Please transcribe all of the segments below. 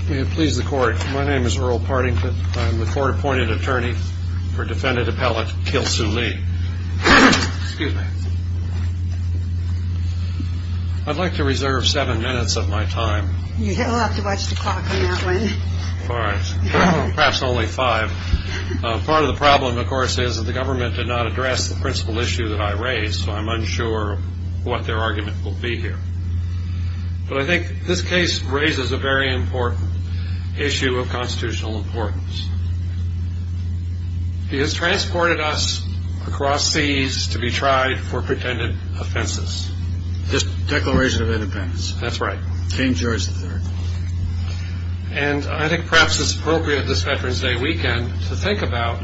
Please the court. My name is Earl Partington. I'm the court-appointed attorney for defendant appellate Kilsue Lee. Excuse me. I'd like to reserve seven minutes of my time. You'll have to watch the clock on that one. All right. Perhaps only five. Part of the problem, of course, is that the government did not address the principal issue that I raised, so I'm unsure what their argument will be here. But I think this case raises a very important issue of constitutional importance. It has transported us across seas to be tried for pretended offenses. This Declaration of Independence. That's right. King George III. And I think perhaps it's appropriate this Veterans Day weekend to think about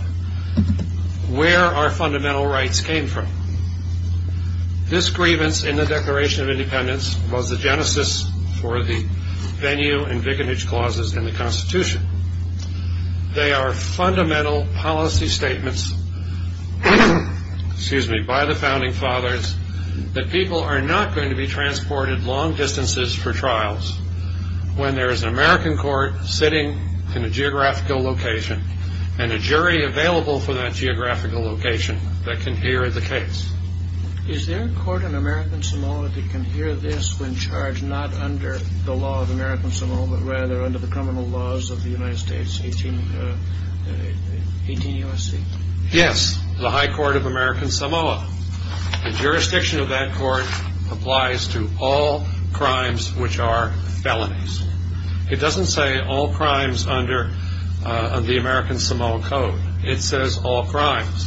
where our fundamental rights came from. This grievance in the Declaration of Independence was the genesis for the venue and vicarage clauses in the Constitution. They are fundamental policy statements by the founding fathers that people are not going to be transported long distances for trials when there is an American court sitting in a geographical location and a jury available for that geographical location that can hear the case. Is there a court in American Samoa that can hear this when charged not under the law of American Samoa, but rather under the criminal laws of the United States, 18 U.S.C.? Yes. The High Court of American Samoa. The jurisdiction of that court applies to all crimes which are felonies. It doesn't say all crimes under the American Samoa Code. It says all crimes.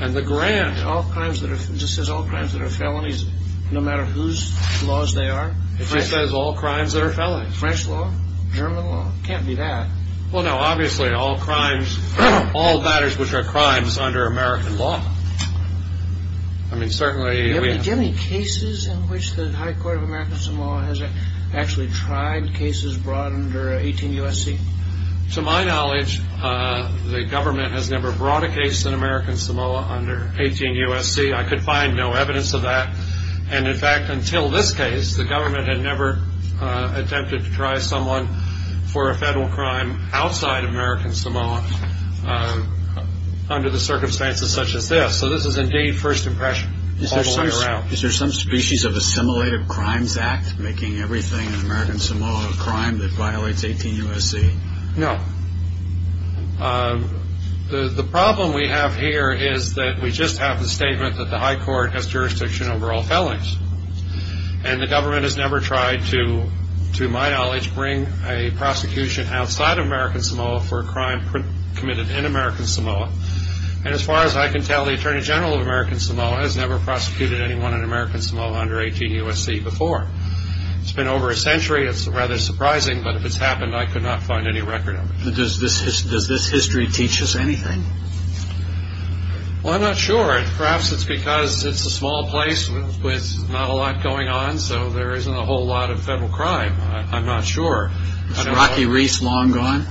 And the grant... It just says all crimes that are felonies, no matter whose laws they are? It just says all crimes that are felonies. French law? German law? It can't be that. Well, no. Obviously, all crimes, all matters which are crimes under American law. I mean, certainly... Do you have any cases in which the High Court of American Samoa has actually tried cases brought under 18 U.S.C.? To my knowledge, the government has never brought a case in American Samoa under 18 U.S.C. I could find no evidence of that. And, in fact, until this case, the government had never attempted to try someone for a federal crime outside American Samoa under the circumstances such as this. So this is, indeed, first impression all the way around. Is there some species of assimilated crimes act making everything in American Samoa a crime that violates 18 U.S.C.? No. The problem we have here is that we just have the statement that the High Court has jurisdiction over all felonies. And the government has never tried to, to my knowledge, bring a prosecution outside of American Samoa for a crime committed in American Samoa. And as far as I can tell, the Attorney General of American Samoa has never prosecuted anyone in American Samoa under 18 U.S.C. before. It's been over a century. It's rather surprising. But if it's happened, I could not find any record of it. Does this history teach us anything? Well, I'm not sure. Perhaps it's because it's a small place with not a lot going on, so there isn't a whole lot of federal crime. I'm not sure. Is Rocky Reece long gone?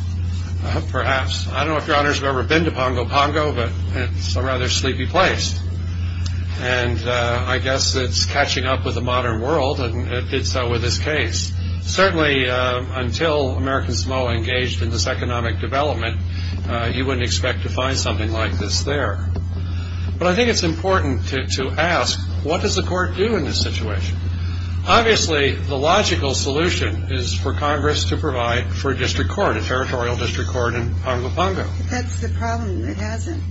Perhaps. I don't know if Your Honors have ever been to Pongo Pongo, but it's a rather sleepy place. And I guess it's catching up with the modern world, and it did so with this case. Certainly, until American Samoa engaged in this economic development, you wouldn't expect to find something like this there. But I think it's important to ask, what does the court do in this situation? Obviously, the logical solution is for Congress to provide for a district court, a territorial district court in Pongo Pongo. But that's the problem. It hasn't.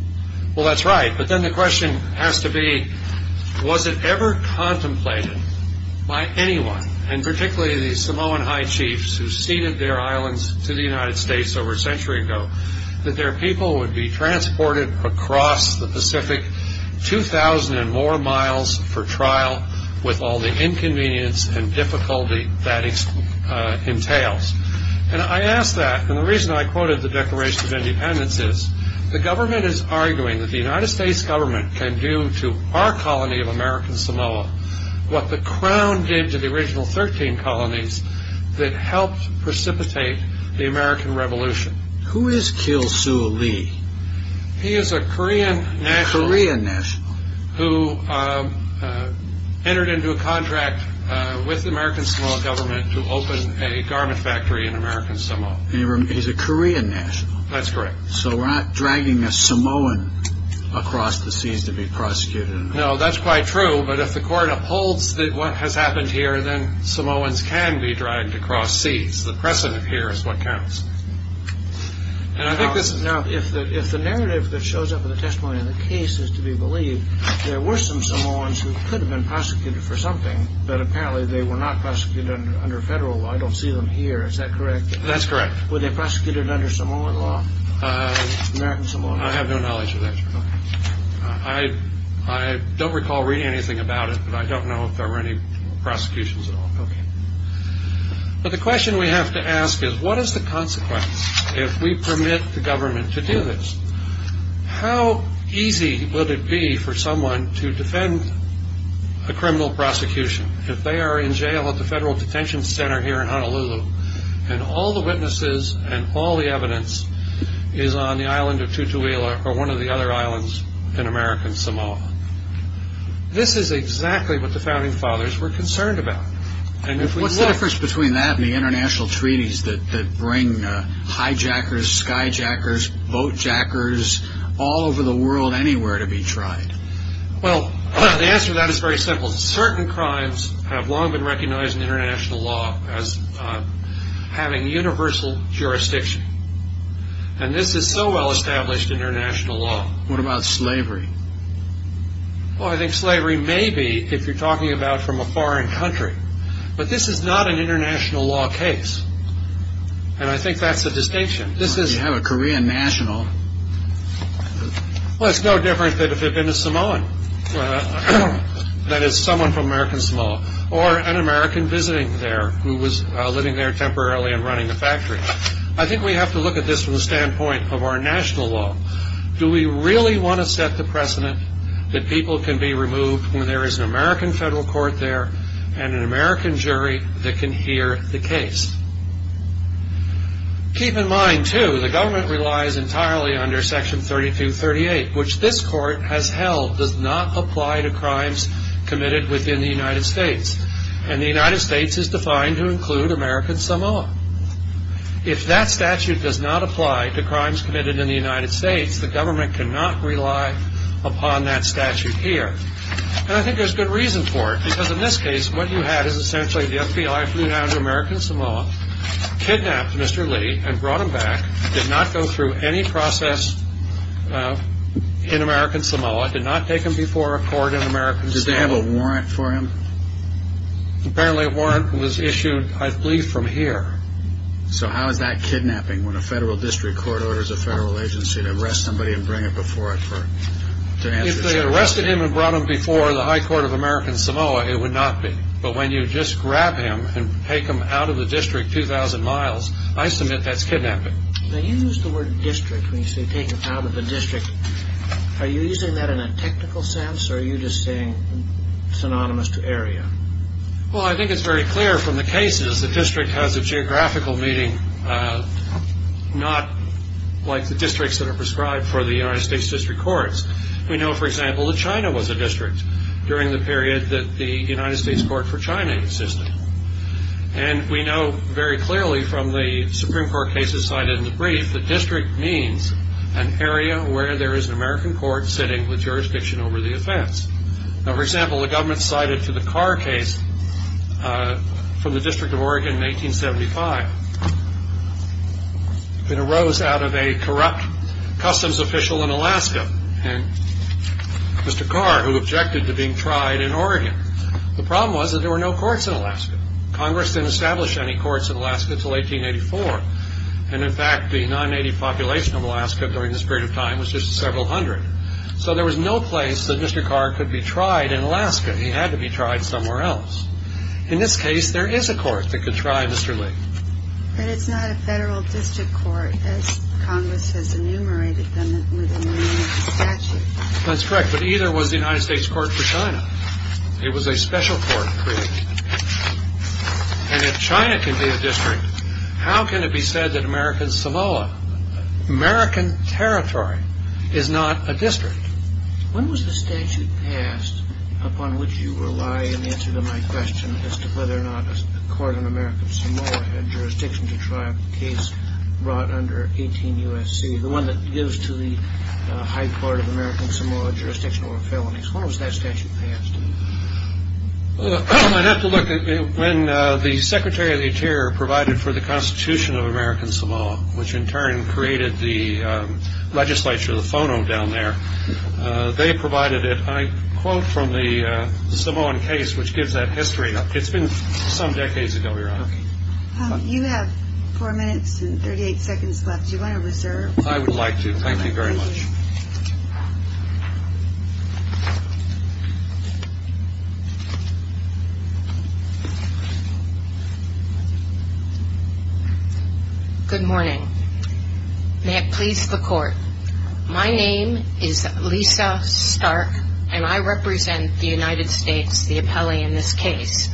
Well, that's right. But then the question has to be, was it ever contemplated by anyone, and particularly the Samoan high chiefs who ceded their islands to the United States over a century ago, that their people would be transported across the Pacific, 2,000 and more miles for trial, with all the inconvenience and difficulty that entails? And I ask that, and the reason I quoted the Declaration of Independence is, the government is arguing that the United States government can do to our colony of American Samoa what the Crown did to the original 13 colonies that helped precipitate the American Revolution. Who is Kiel Suu Kyi? He is a Korean national. A Korean national. Who entered into a contract with the American Samoa government to open a garment factory in American Samoa. He's a Korean national. That's correct. So we're not dragging a Samoan across the seas to be prosecuted. No, that's quite true, but if the court upholds what has happened here, then Samoans can be dragged across seas. The precedent here is what counts. Now, if the narrative that shows up in the testimony of the case is to be believed, there were some Samoans who could have been prosecuted for something, but apparently they were not prosecuted under federal law. I don't see them here. Is that correct? That's correct. Were they prosecuted under Samoan law? American Samoa law? I have no knowledge of that. I don't recall reading anything about it, but I don't know if there were any prosecutions at all. But the question we have to ask is what is the consequence if we permit the government to do this? How easy would it be for someone to defend a criminal prosecution if they are in jail at the Federal Detention Center here in Honolulu and all the witnesses and all the evidence is on the island of Tutuila or one of the other islands in American Samoa? This is exactly what the Founding Fathers were concerned about. What's the difference between that and the international treaties that bring hijackers, skyjackers, boatjackers all over the world anywhere to be tried? Well, the answer to that is very simple. Certain crimes have long been recognized in international law as having universal jurisdiction. And this is so well established in international law. What about slavery? Well, I think slavery may be, if you're talking about from a foreign country, but this is not an international law case. And I think that's the distinction. You have a Korean national. Well, it's no different than if it had been a Samoan, that is someone from American Samoa, or an American visiting there who was living there temporarily and running a factory. I think we have to look at this from the standpoint of our national law. Do we really want to set the precedent that people can be removed when there is an American federal court there and an American jury that can hear the case? Keep in mind, too, the government relies entirely under Section 3238, which this court has held does not apply to crimes committed within the United States. And the United States is defined to include American Samoa. If that statute does not apply to crimes committed in the United States, the government cannot rely upon that statute here. And I think there's good reason for it, because in this case what you had is essentially the FBI flew down to American Samoa, kidnapped Mr. Lee and brought him back, did not go through any process in American Samoa, did not take him before a court in American Samoa. Does they have a warrant for him? Apparently a warrant was issued, I believe, from here. So how is that kidnapping when a federal district court orders a federal agency to arrest somebody and bring it before it to answer its own arrest? If they arrested him and brought him before the high court of American Samoa, it would not be. But when you just grab him and take him out of the district 2,000 miles, I submit that's kidnapping. Now you use the word district when you say take him out of the district. Are you using that in a technical sense, or are you just saying synonymous to area? Well, I think it's very clear from the cases the district has a geographical meaning, not like the districts that are prescribed for the United States district courts. We know, for example, that China was a district during the period that the United States Court for China existed. And we know very clearly from the Supreme Court cases cited in the brief that district means an area where there is an American court sitting with jurisdiction over the offense. Now, for example, the government cited to the Carr case from the District of Oregon in 1975. It arose out of a corrupt customs official in Alaska, Mr. Carr, who objected to being tried in Oregon. The problem was that there were no courts in Alaska. Congress didn't establish any courts in Alaska until 1884. And, in fact, the non-native population of Alaska during this period of time was just several hundred. So there was no place that Mr. Carr could be tried in Alaska. He had to be tried somewhere else. In this case, there is a court that could try Mr. Lee. But it's not a federal district court, as Congress has enumerated them within the statute. That's correct, but either was the United States Court for China. It was a special court created. And if China can be a district, how can it be said that American Samoa, American territory, is not a district? When was the statute passed upon which you rely in answer to my question as to whether or not a court in American Samoa had jurisdiction to try a case brought under 18 U.S.C., the one that gives to the high court of American Samoa jurisdiction over felonies? When was that statute passed? I'd have to look. When the Secretary of the Interior provided for the Constitution of American Samoa, which in turn created the legislature, the FONO down there, they provided it. I quote from the Samoan case, which gives that history. It's been some decades ago, Your Honor. You have four minutes and 38 seconds left. Do you want to reserve? I would like to. Thank you very much. Good morning. May it please the Court. My name is Lisa Stark, and I represent the United States, the appellee in this case.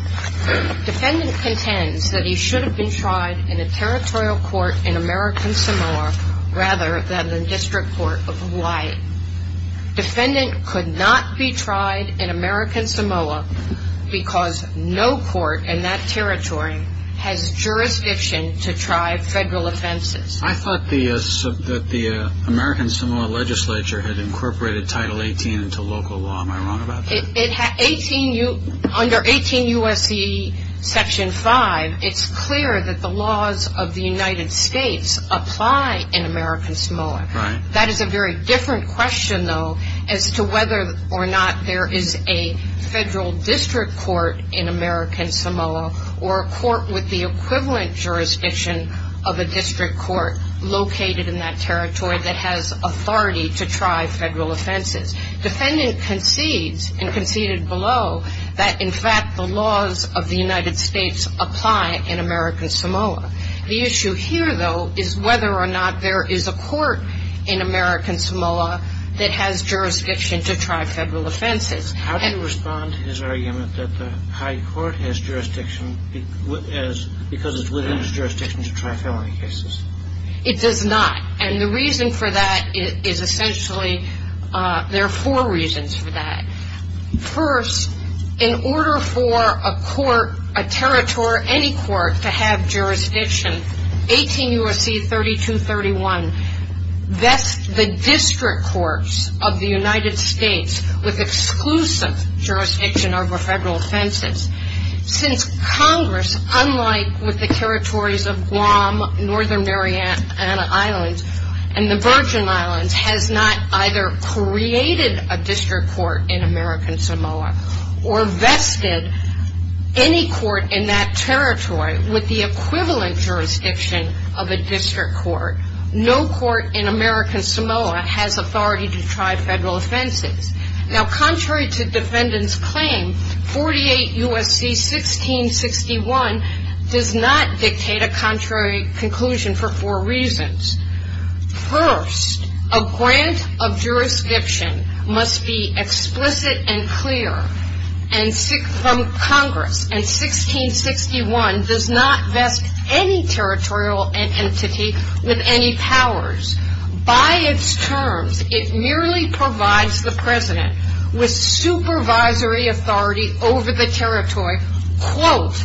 Defendant contends that he should have been tried in a territorial court in American Samoa rather than the district court of Hawaii. Defendant could not be tried in American Samoa, because no court in that territory has jurisdiction to try federal offenses. I thought that the American Samoa legislature had incorporated Title 18 into local law. Am I wrong about that? Under 18 U.S.C. Section 5, it's clear that the laws of the United States apply in American Samoa. Right. That is a very different question, though, as to whether or not there is a federal district court in American Samoa or a court with the equivalent jurisdiction of a district court located in that territory that has authority to try federal offenses. Defendant concedes and conceded below that, in fact, the laws of the United States apply in American Samoa. The issue here, though, is whether or not there is a court in American Samoa that has jurisdiction to try federal offenses. How do you respond to his argument that the high court has jurisdiction because it's within its jurisdiction to try felony cases? It does not, and the reason for that is essentially there are four reasons for that. First, in order for a court, a territory, any court to have jurisdiction, 18 U.S.C. 3231, vests the district courts of the United States with exclusive jurisdiction over federal offenses. Since Congress, unlike with the territories of Guam, Northern Mariana Islands, and the Virgin Islands has not either created a district court in American Samoa or vested any court in that territory with the equivalent jurisdiction of a district court, no court in American Samoa has authority to try federal offenses. Now, contrary to defendant's claim, 48 U.S.C. 1661 does not dictate a contrary conclusion for four reasons. First, a grant of jurisdiction must be explicit and clear from Congress, and 1661 does not vest any territorial entity with any powers. By its terms, it merely provides the president with supervisory authority over the territory, quote,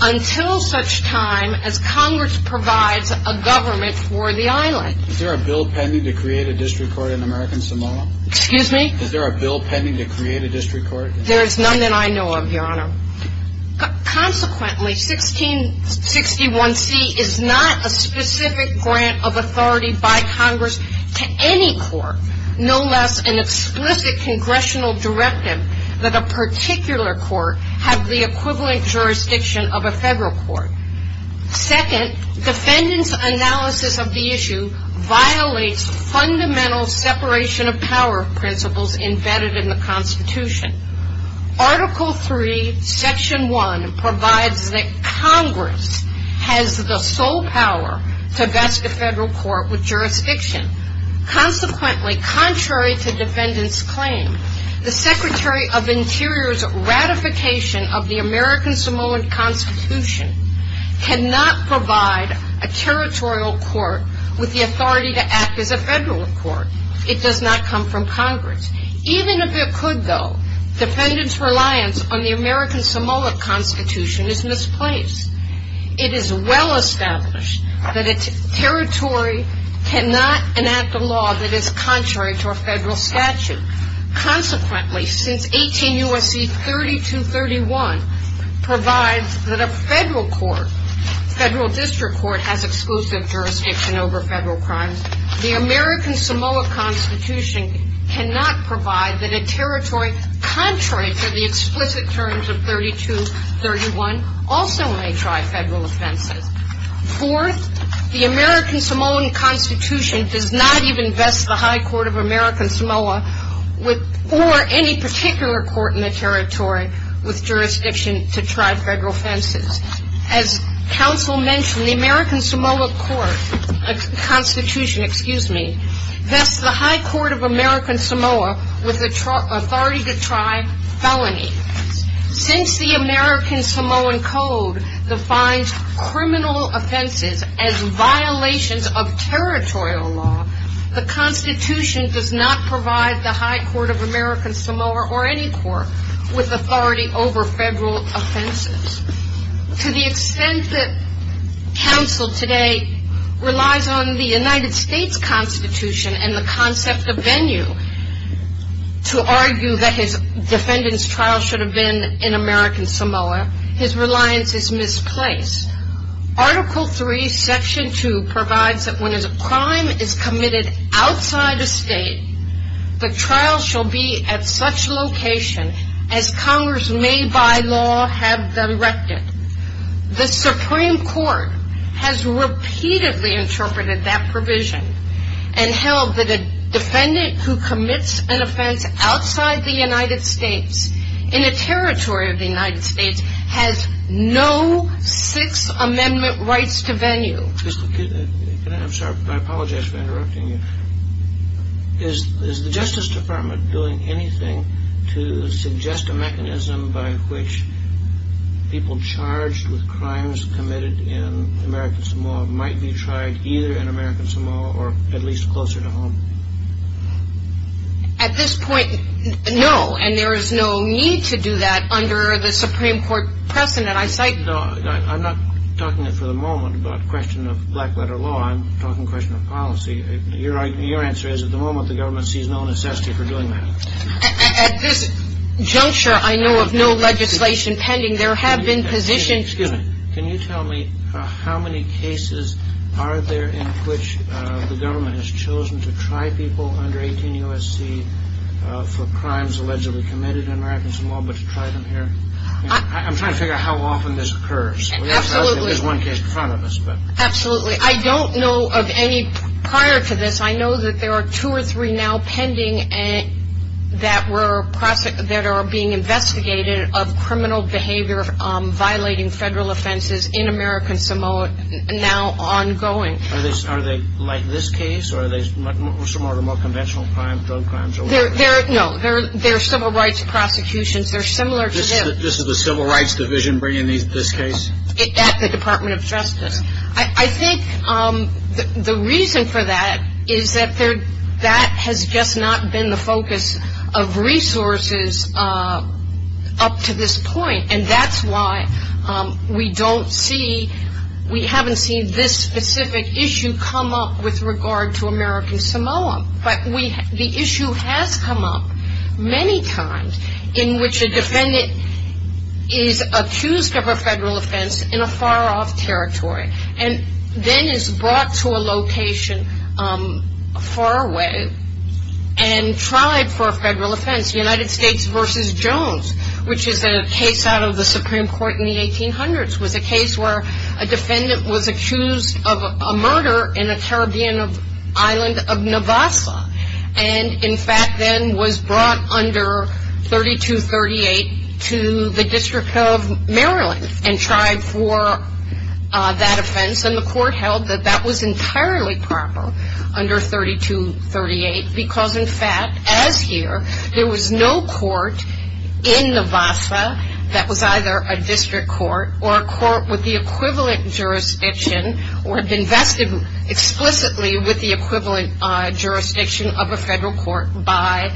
until such time as Congress provides a government for the island. Is there a bill pending to create a district court in American Samoa? Excuse me? Is there a bill pending to create a district court? There is none that I know of, Your Honor. Consequently, 1661C is not a specific grant of authority by Congress to any court, no less an explicit congressional directive that a particular court have the equivalent jurisdiction of a federal court. Second, defendant's analysis of the issue violates fundamental separation of power principles embedded in the Constitution. Article III, Section 1 provides that Congress has the sole power to vest a federal court with jurisdiction. Consequently, contrary to defendant's claim, the Secretary of Interior's ratification of the American Samoan Constitution cannot provide a territorial court with the authority to act as a federal court. It does not come from Congress. Even if it could, though, defendant's reliance on the American Samoan Constitution is misplaced. It is well established that a territory cannot enact a law that is contrary to a federal statute. Consequently, since 18 U.S.C. 3231 provides that a federal court, federal district court, has exclusive jurisdiction over federal crimes, the American Samoa Constitution cannot provide that a territory contrary to the explicit terms of 3231 also may try federal offenses. Fourth, the American Samoan Constitution does not even vest the high court of American Samoa or any particular court in the territory with jurisdiction to try federal offenses. As counsel mentioned, the American Samoa Constitution vests the high court of American Samoa with the authority to try felonies. Since the American Samoan Code defines criminal offenses as violations of territorial law, the Constitution does not provide the high court of American Samoa or any court with authority over federal offenses. To the extent that counsel today relies on the United States Constitution and the concept of venue to argue that his defendant's trial should have been in American Samoa, his reliance is misplaced. Article III, Section 2 provides that when a crime is committed outside a state, the trial shall be at such location as Congress may by law have directed. The Supreme Court has repeatedly interpreted that provision and held that a defendant who commits an offense outside the United States in a territory of the United States has no Sixth Amendment rights to venue. I'm sorry, I apologize for interrupting you. Is the Justice Department doing anything to suggest a mechanism by which people charged with crimes committed in American Samoa might be tried either in American Samoa or at least closer to home? At this point, no, and there is no need to do that under the Supreme Court precedent. I cite... No, I'm not talking for the moment about question of black-letter law. I'm talking question of policy. Your answer is at the moment the government sees no necessity for doing that. At this juncture, I know of no legislation pending. There have been positions... ...by people under 18 U.S.C. for crimes allegedly committed in American Samoa but to try them here. I'm trying to figure out how often this occurs. Absolutely. There's one case in front of us. Absolutely. I don't know of any prior to this. I know that there are two or three now pending that are being investigated of criminal behavior violating federal offenses in American Samoa now ongoing. Are they like this case or are they similar to more conventional crime, drug crimes? No, they're civil rights prosecutions. They're similar to this. This is the Civil Rights Division bringing this case? At the Department of Justice. I think the reason for that is that that has just not been the focus of resources up to this point, and that's why we haven't seen this specific issue come up with regard to American Samoa. But the issue has come up many times in which a defendant is accused of a federal offense in a far-off territory and then is brought to a location far away and tried for a federal offense, United States v. Jones, which is a case out of the Supreme Court in the 1800s, was a case where a defendant was accused of a murder in a Caribbean island of Navassa and, in fact, then was brought under 3238 to the District of Maryland and tried for that offense. And the court held that that was entirely proper under 3238 because, in fact, as here, there was no court in Navassa that was either a district court or a court with the equivalent jurisdiction or invested explicitly with the equivalent jurisdiction of a federal court by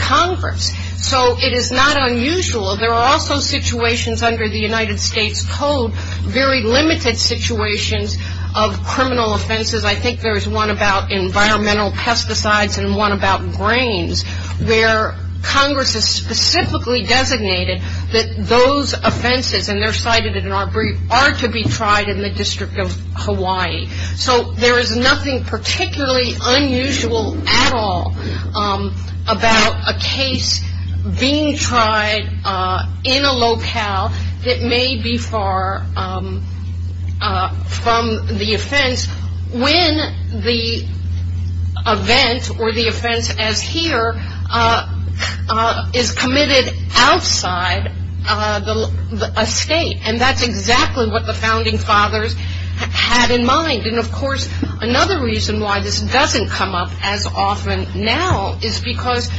Congress. So it is not unusual. There are also situations under the United States Code, very limited situations of criminal offenses. I think there is one about environmental pesticides and one about grains, where Congress has specifically designated that those offenses, and they're cited in our brief, are to be tried in the District of Hawaii. So there is nothing particularly unusual at all about a case being tried in a locale that may be far from the offense when the event or the offense as here is committed outside a state. And that's exactly what the founding fathers had in mind. And, of course, another reason why this doesn't come up as often now is because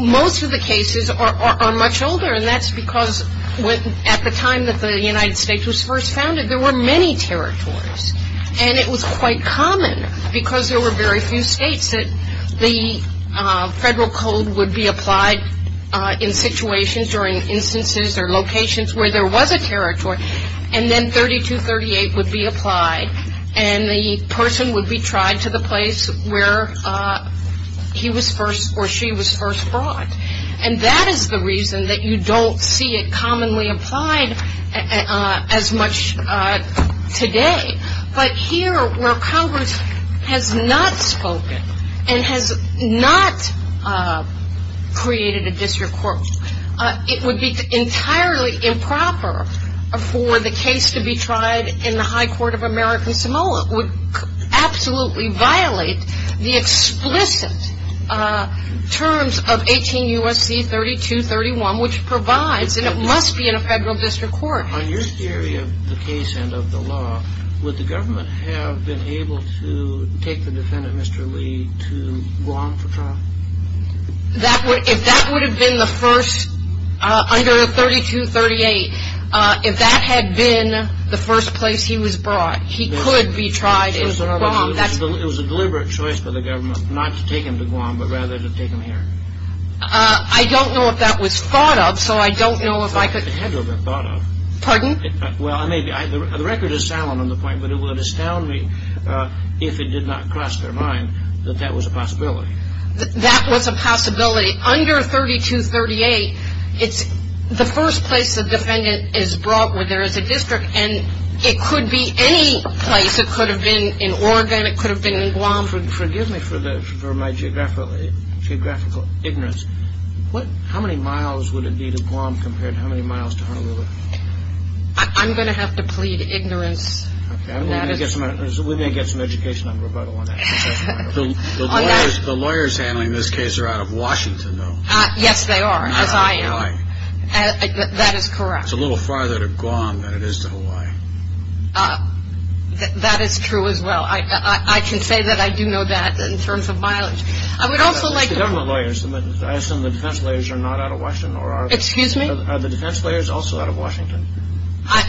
most of the cases are much older, and that's because at the time that the United States was first founded, there were many territories. And it was quite common because there were very few states that the federal code would be applied in situations or in instances or locations where there was a territory, and then 3238 would be applied, and the person would be tried to the place where he was first or she was first brought. And that is the reason that you don't see it commonly applied as much today. But here where Congress has not spoken and has not created a district court, it would be entirely improper for the case to be tried in the high court of American Samoa. It would absolutely violate the explicit terms of 18 U.S.C. 3231, which provides, and it must be in a federal district court. On your theory of the case and of the law, would the government have been able to take the defendant, Mr. Lee, to Guam for trial? If that would have been the first, under 3238, if that had been the first place he was brought, he could be tried in Guam. It was a deliberate choice by the government not to take him to Guam, but rather to take him here. I don't know if that was thought of, so I don't know if I could... It had to have been thought of. Pardon? Well, the record is salient on the point, but it would astound me if it did not cross their mind that that was a possibility. That was a possibility. Under 3238, it's the first place a defendant is brought where there is a district, and it could be any place. It could have been in Oregon. It could have been in Guam. Forgive me for my geographical ignorance. How many miles would it be to Guam compared to how many miles to Honolulu? I'm going to have to plead ignorance. We may get some education on rebuttal on that. The lawyers handling this case are out of Washington, though. Yes, they are, as I am. That is correct. It's a little farther to Guam than it is to Hawaii. That is true as well. I can say that I do know that in terms of mileage. The government lawyers, I assume the defense lawyers are not out of Washington? Excuse me? Are the defense lawyers also out of Washington?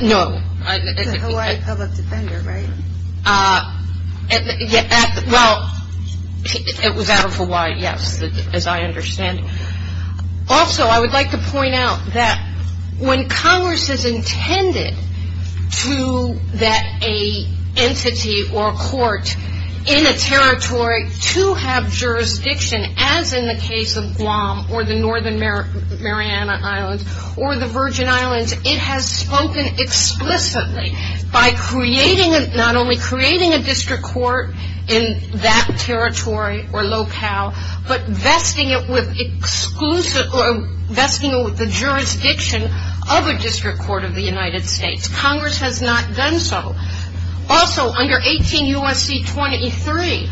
No. It's a Hawaii public defender, right? Well, it was out of Hawaii, yes, as I understand. Also, I would like to point out that when Congress is intended to get an entity or a court in a territory to have jurisdiction, as in the case of Guam or the Northern Mariana Islands or the Virgin Islands, it has spoken explicitly by not only creating a district court in that territory or locale, but vesting it with the jurisdiction of a district court of the United States. Congress has not done so. Also, under 18 U.S.C. 23,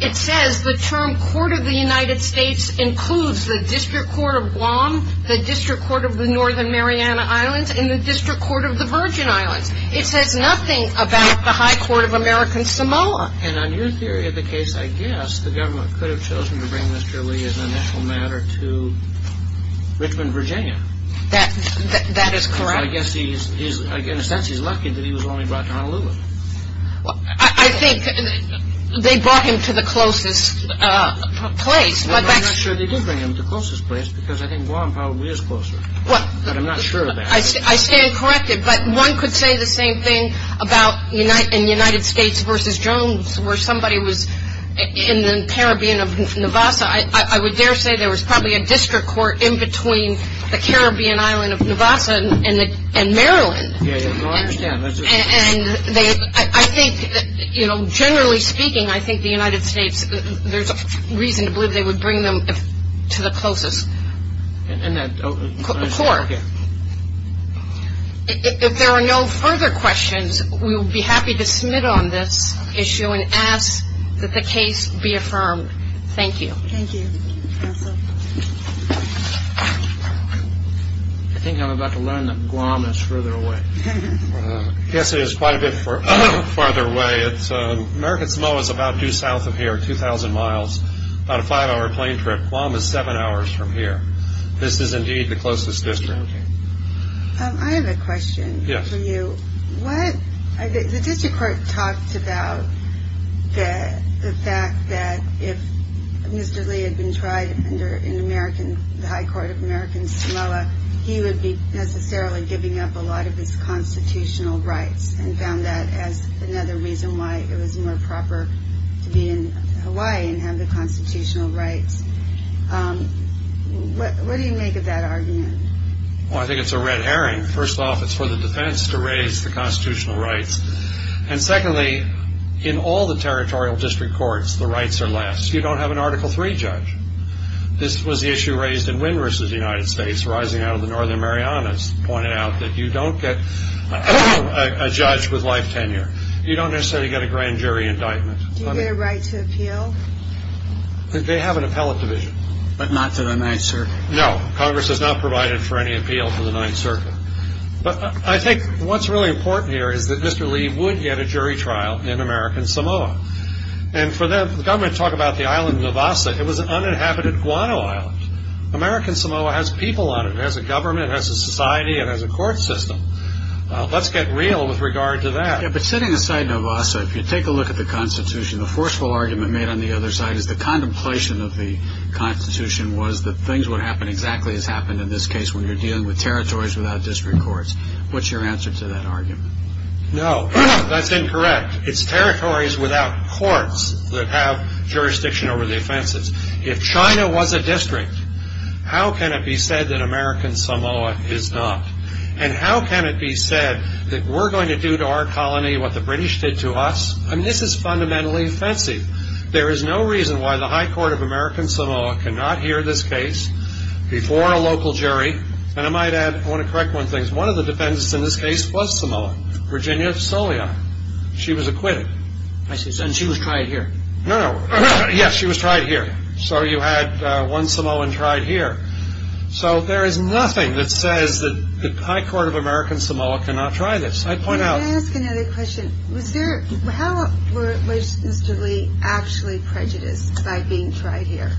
it says the term court of the United States includes the district court of Guam, the district court of the Northern Mariana Islands, and the district court of the Virgin Islands. It says nothing about the high court of American Samoa. And on your theory of the case, I guess the government could have chosen to bring Mr. Lee as an initial matter to Richmond, Virginia. That is correct. So I guess in a sense he's lucky that he was only brought to Honolulu. I think they brought him to the closest place. I'm not sure they did bring him to the closest place because I think Guam probably is closer. But I'm not sure of that. I stand corrected. But one could say the same thing about in the United States versus Jones where somebody was in the Caribbean of Nevada. I would dare say there was probably a district court in between the Caribbean island of Nevada and Maryland. I understand. And I think, you know, generally speaking, I think the United States, there's reason to believe they would bring him to the closest court. If there are no further questions, we would be happy to submit on this issue and ask that the case be affirmed. Thank you. Thank you. Counsel. I think I'm about to learn that Guam is further away. Yes, it is quite a bit farther away. American Samoa is about due south of here, 2,000 miles, about a five-hour plane trip. Guam is seven hours from here. This is indeed the closest district. I have a question for you. The district court talked about the fact that if Mr. Lee had been tried in the high court of American Samoa, he would be necessarily giving up a lot of his constitutional rights and found that as another reason why it was more proper to be in Hawaii and have the constitutional rights. What do you make of that argument? Well, I think it's a red herring. First off, it's for the defense to raise the constitutional rights. And secondly, in all the territorial district courts, the rights are less. You don't have an Article III judge. This was the issue raised in Wynn v. United States, rising out of the Northern Marianas, pointed out that you don't get a judge with life tenure. You don't necessarily get a grand jury indictment. Do you get a right to appeal? They have an appellate division. But not to the Ninth Circuit. No, Congress has not provided for any appeal to the Ninth Circuit. But I think what's really important here is that Mr. Lee would get a jury trial in American Samoa. And for the government to talk about the island of Navassa, it was an uninhabited guano island. American Samoa has people on it. It has a government. It has a society. It has a court system. Let's get real with regard to that. Yeah, but setting aside Navassa, if you take a look at the Constitution, the forceful argument made on the other side is the contemplation of the Constitution was that things would happen exactly as happened in this case when you're dealing with territories without district courts. What's your answer to that argument? No, that's incorrect. It's territories without courts that have jurisdiction over the offenses. If China was a district, how can it be said that American Samoa is not? And how can it be said that we're going to do to our colony what the British did to us? I mean, this is fundamentally offensive. There is no reason why the High Court of American Samoa cannot hear this case before a local jury. And I might add, I want to correct one thing. One of the defendants in this case was Samoan, Virginia Solian. She was acquitted. I see. And she was tried here. No, no. Yes, she was tried here. So you had one Samoan tried here. So there is nothing that says that the High Court of American Samoa cannot try this. Can I ask another question? How was Mr. Lee actually prejudiced by being tried here?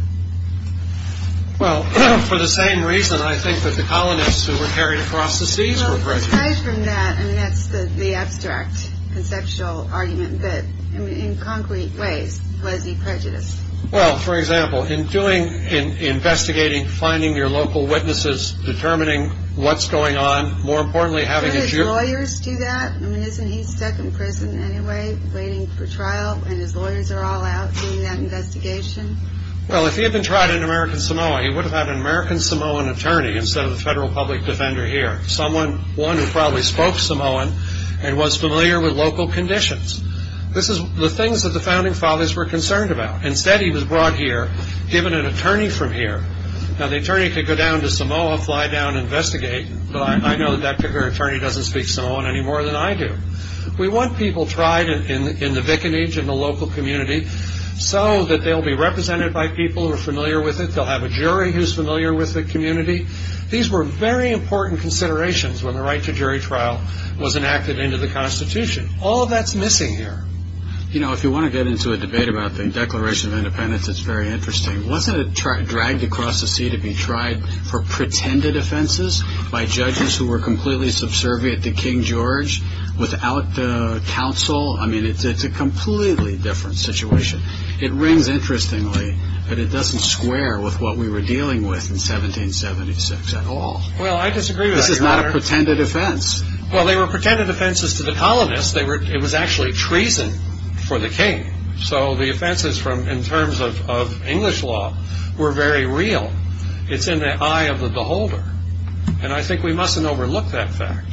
Well, for the same reason I think that the colonists who were carried across the seas were prejudiced. Well, aside from that, I mean, that's the abstract conceptual argument. But in concrete ways, was he prejudiced? Well, for example, in investigating, finding your local witnesses, determining what's going on, more importantly having a jury. Don't his lawyers do that? I mean, isn't he stuck in prison anyway waiting for trial, and his lawyers are all out doing that investigation? Well, if he had been tried in American Samoa, he would have had an American Samoan attorney instead of a federal public defender here, one who probably spoke Samoan and was familiar with local conditions. This is the things that the founding fathers were concerned about. Instead, he was brought here, given an attorney from here. Now, the attorney could go down to Samoa, fly down, investigate. But I know that that attorney doesn't speak Samoan any more than I do. We want people tried in the vicinage, in the local community, so that they'll be represented by people who are familiar with it. They'll have a jury who's familiar with the community. These were very important considerations when the right to jury trial was enacted into the Constitution. All that's missing here. You know, if you want to get into a debate about the Declaration of Independence, it's very interesting. Wasn't it dragged across the sea to be tried for pretended offenses by judges who were completely subservient to King George without the counsel? I mean, it's a completely different situation. It rings interestingly that it doesn't square with what we were dealing with in 1776 at all. Well, I disagree with that, Your Honor. This is not a pretended offense. Well, they were pretended offenses to the colonists. It was actually treason for the king. So the offenses in terms of English law were very real. It's in the eye of the beholder. And I think we mustn't overlook that fact.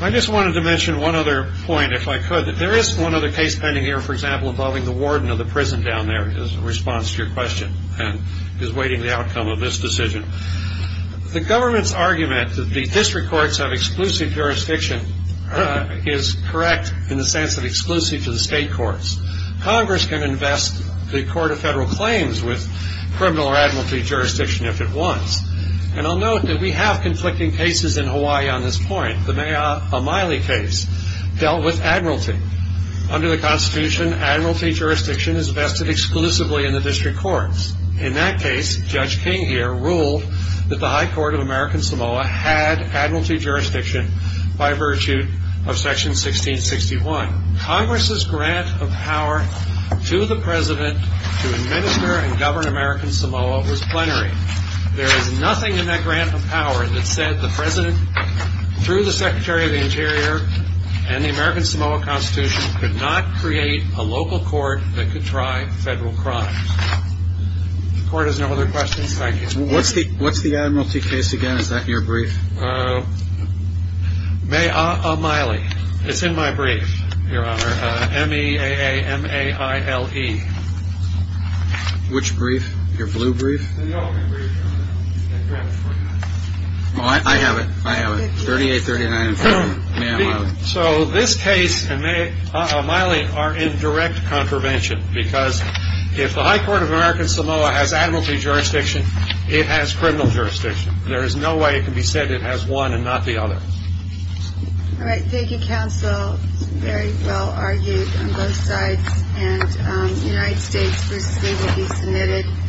I just wanted to mention one other point, if I could. There is one other case pending here, for example, involving the warden of the prison down there, in response to your question, and is waiting the outcome of this decision. The government's argument that the district courts have exclusive jurisdiction is correct in the sense of exclusive to the state courts. Congress can invest the Court of Federal Claims with criminal or admiralty jurisdiction if it wants. And I'll note that we have conflicting cases in Hawaii on this point. The Maya O'Malley case dealt with admiralty. Under the Constitution, admiralty jurisdiction is vested exclusively in the district courts. In that case, Judge King here ruled that the High Court of American Samoa had admiralty jurisdiction by virtue of Section 1661. Congress's grant of power to the President to administer and govern American Samoa was plenary. There is nothing in that grant of power that said the President, through the Secretary of the Interior and the American Samoa Constitution, could not create a local court that could try federal crimes. If the Court has no other questions, thank you. What's the admiralty case again? Is that your brief? Maya O'Malley. It's in my brief, Your Honor. M-E-A-A-M-A-I-L-E. Which brief? Your blue brief? I have it. I have it. 3839. So this case and Maya O'Malley are in direct contravention because if the High Court of American Samoa has admiralty jurisdiction, it has criminal jurisdiction. There is no way it can be said it has one and not the other. All right. Thank you, counsel. Very well argued on both sides. And United States v. Lee will be submitted.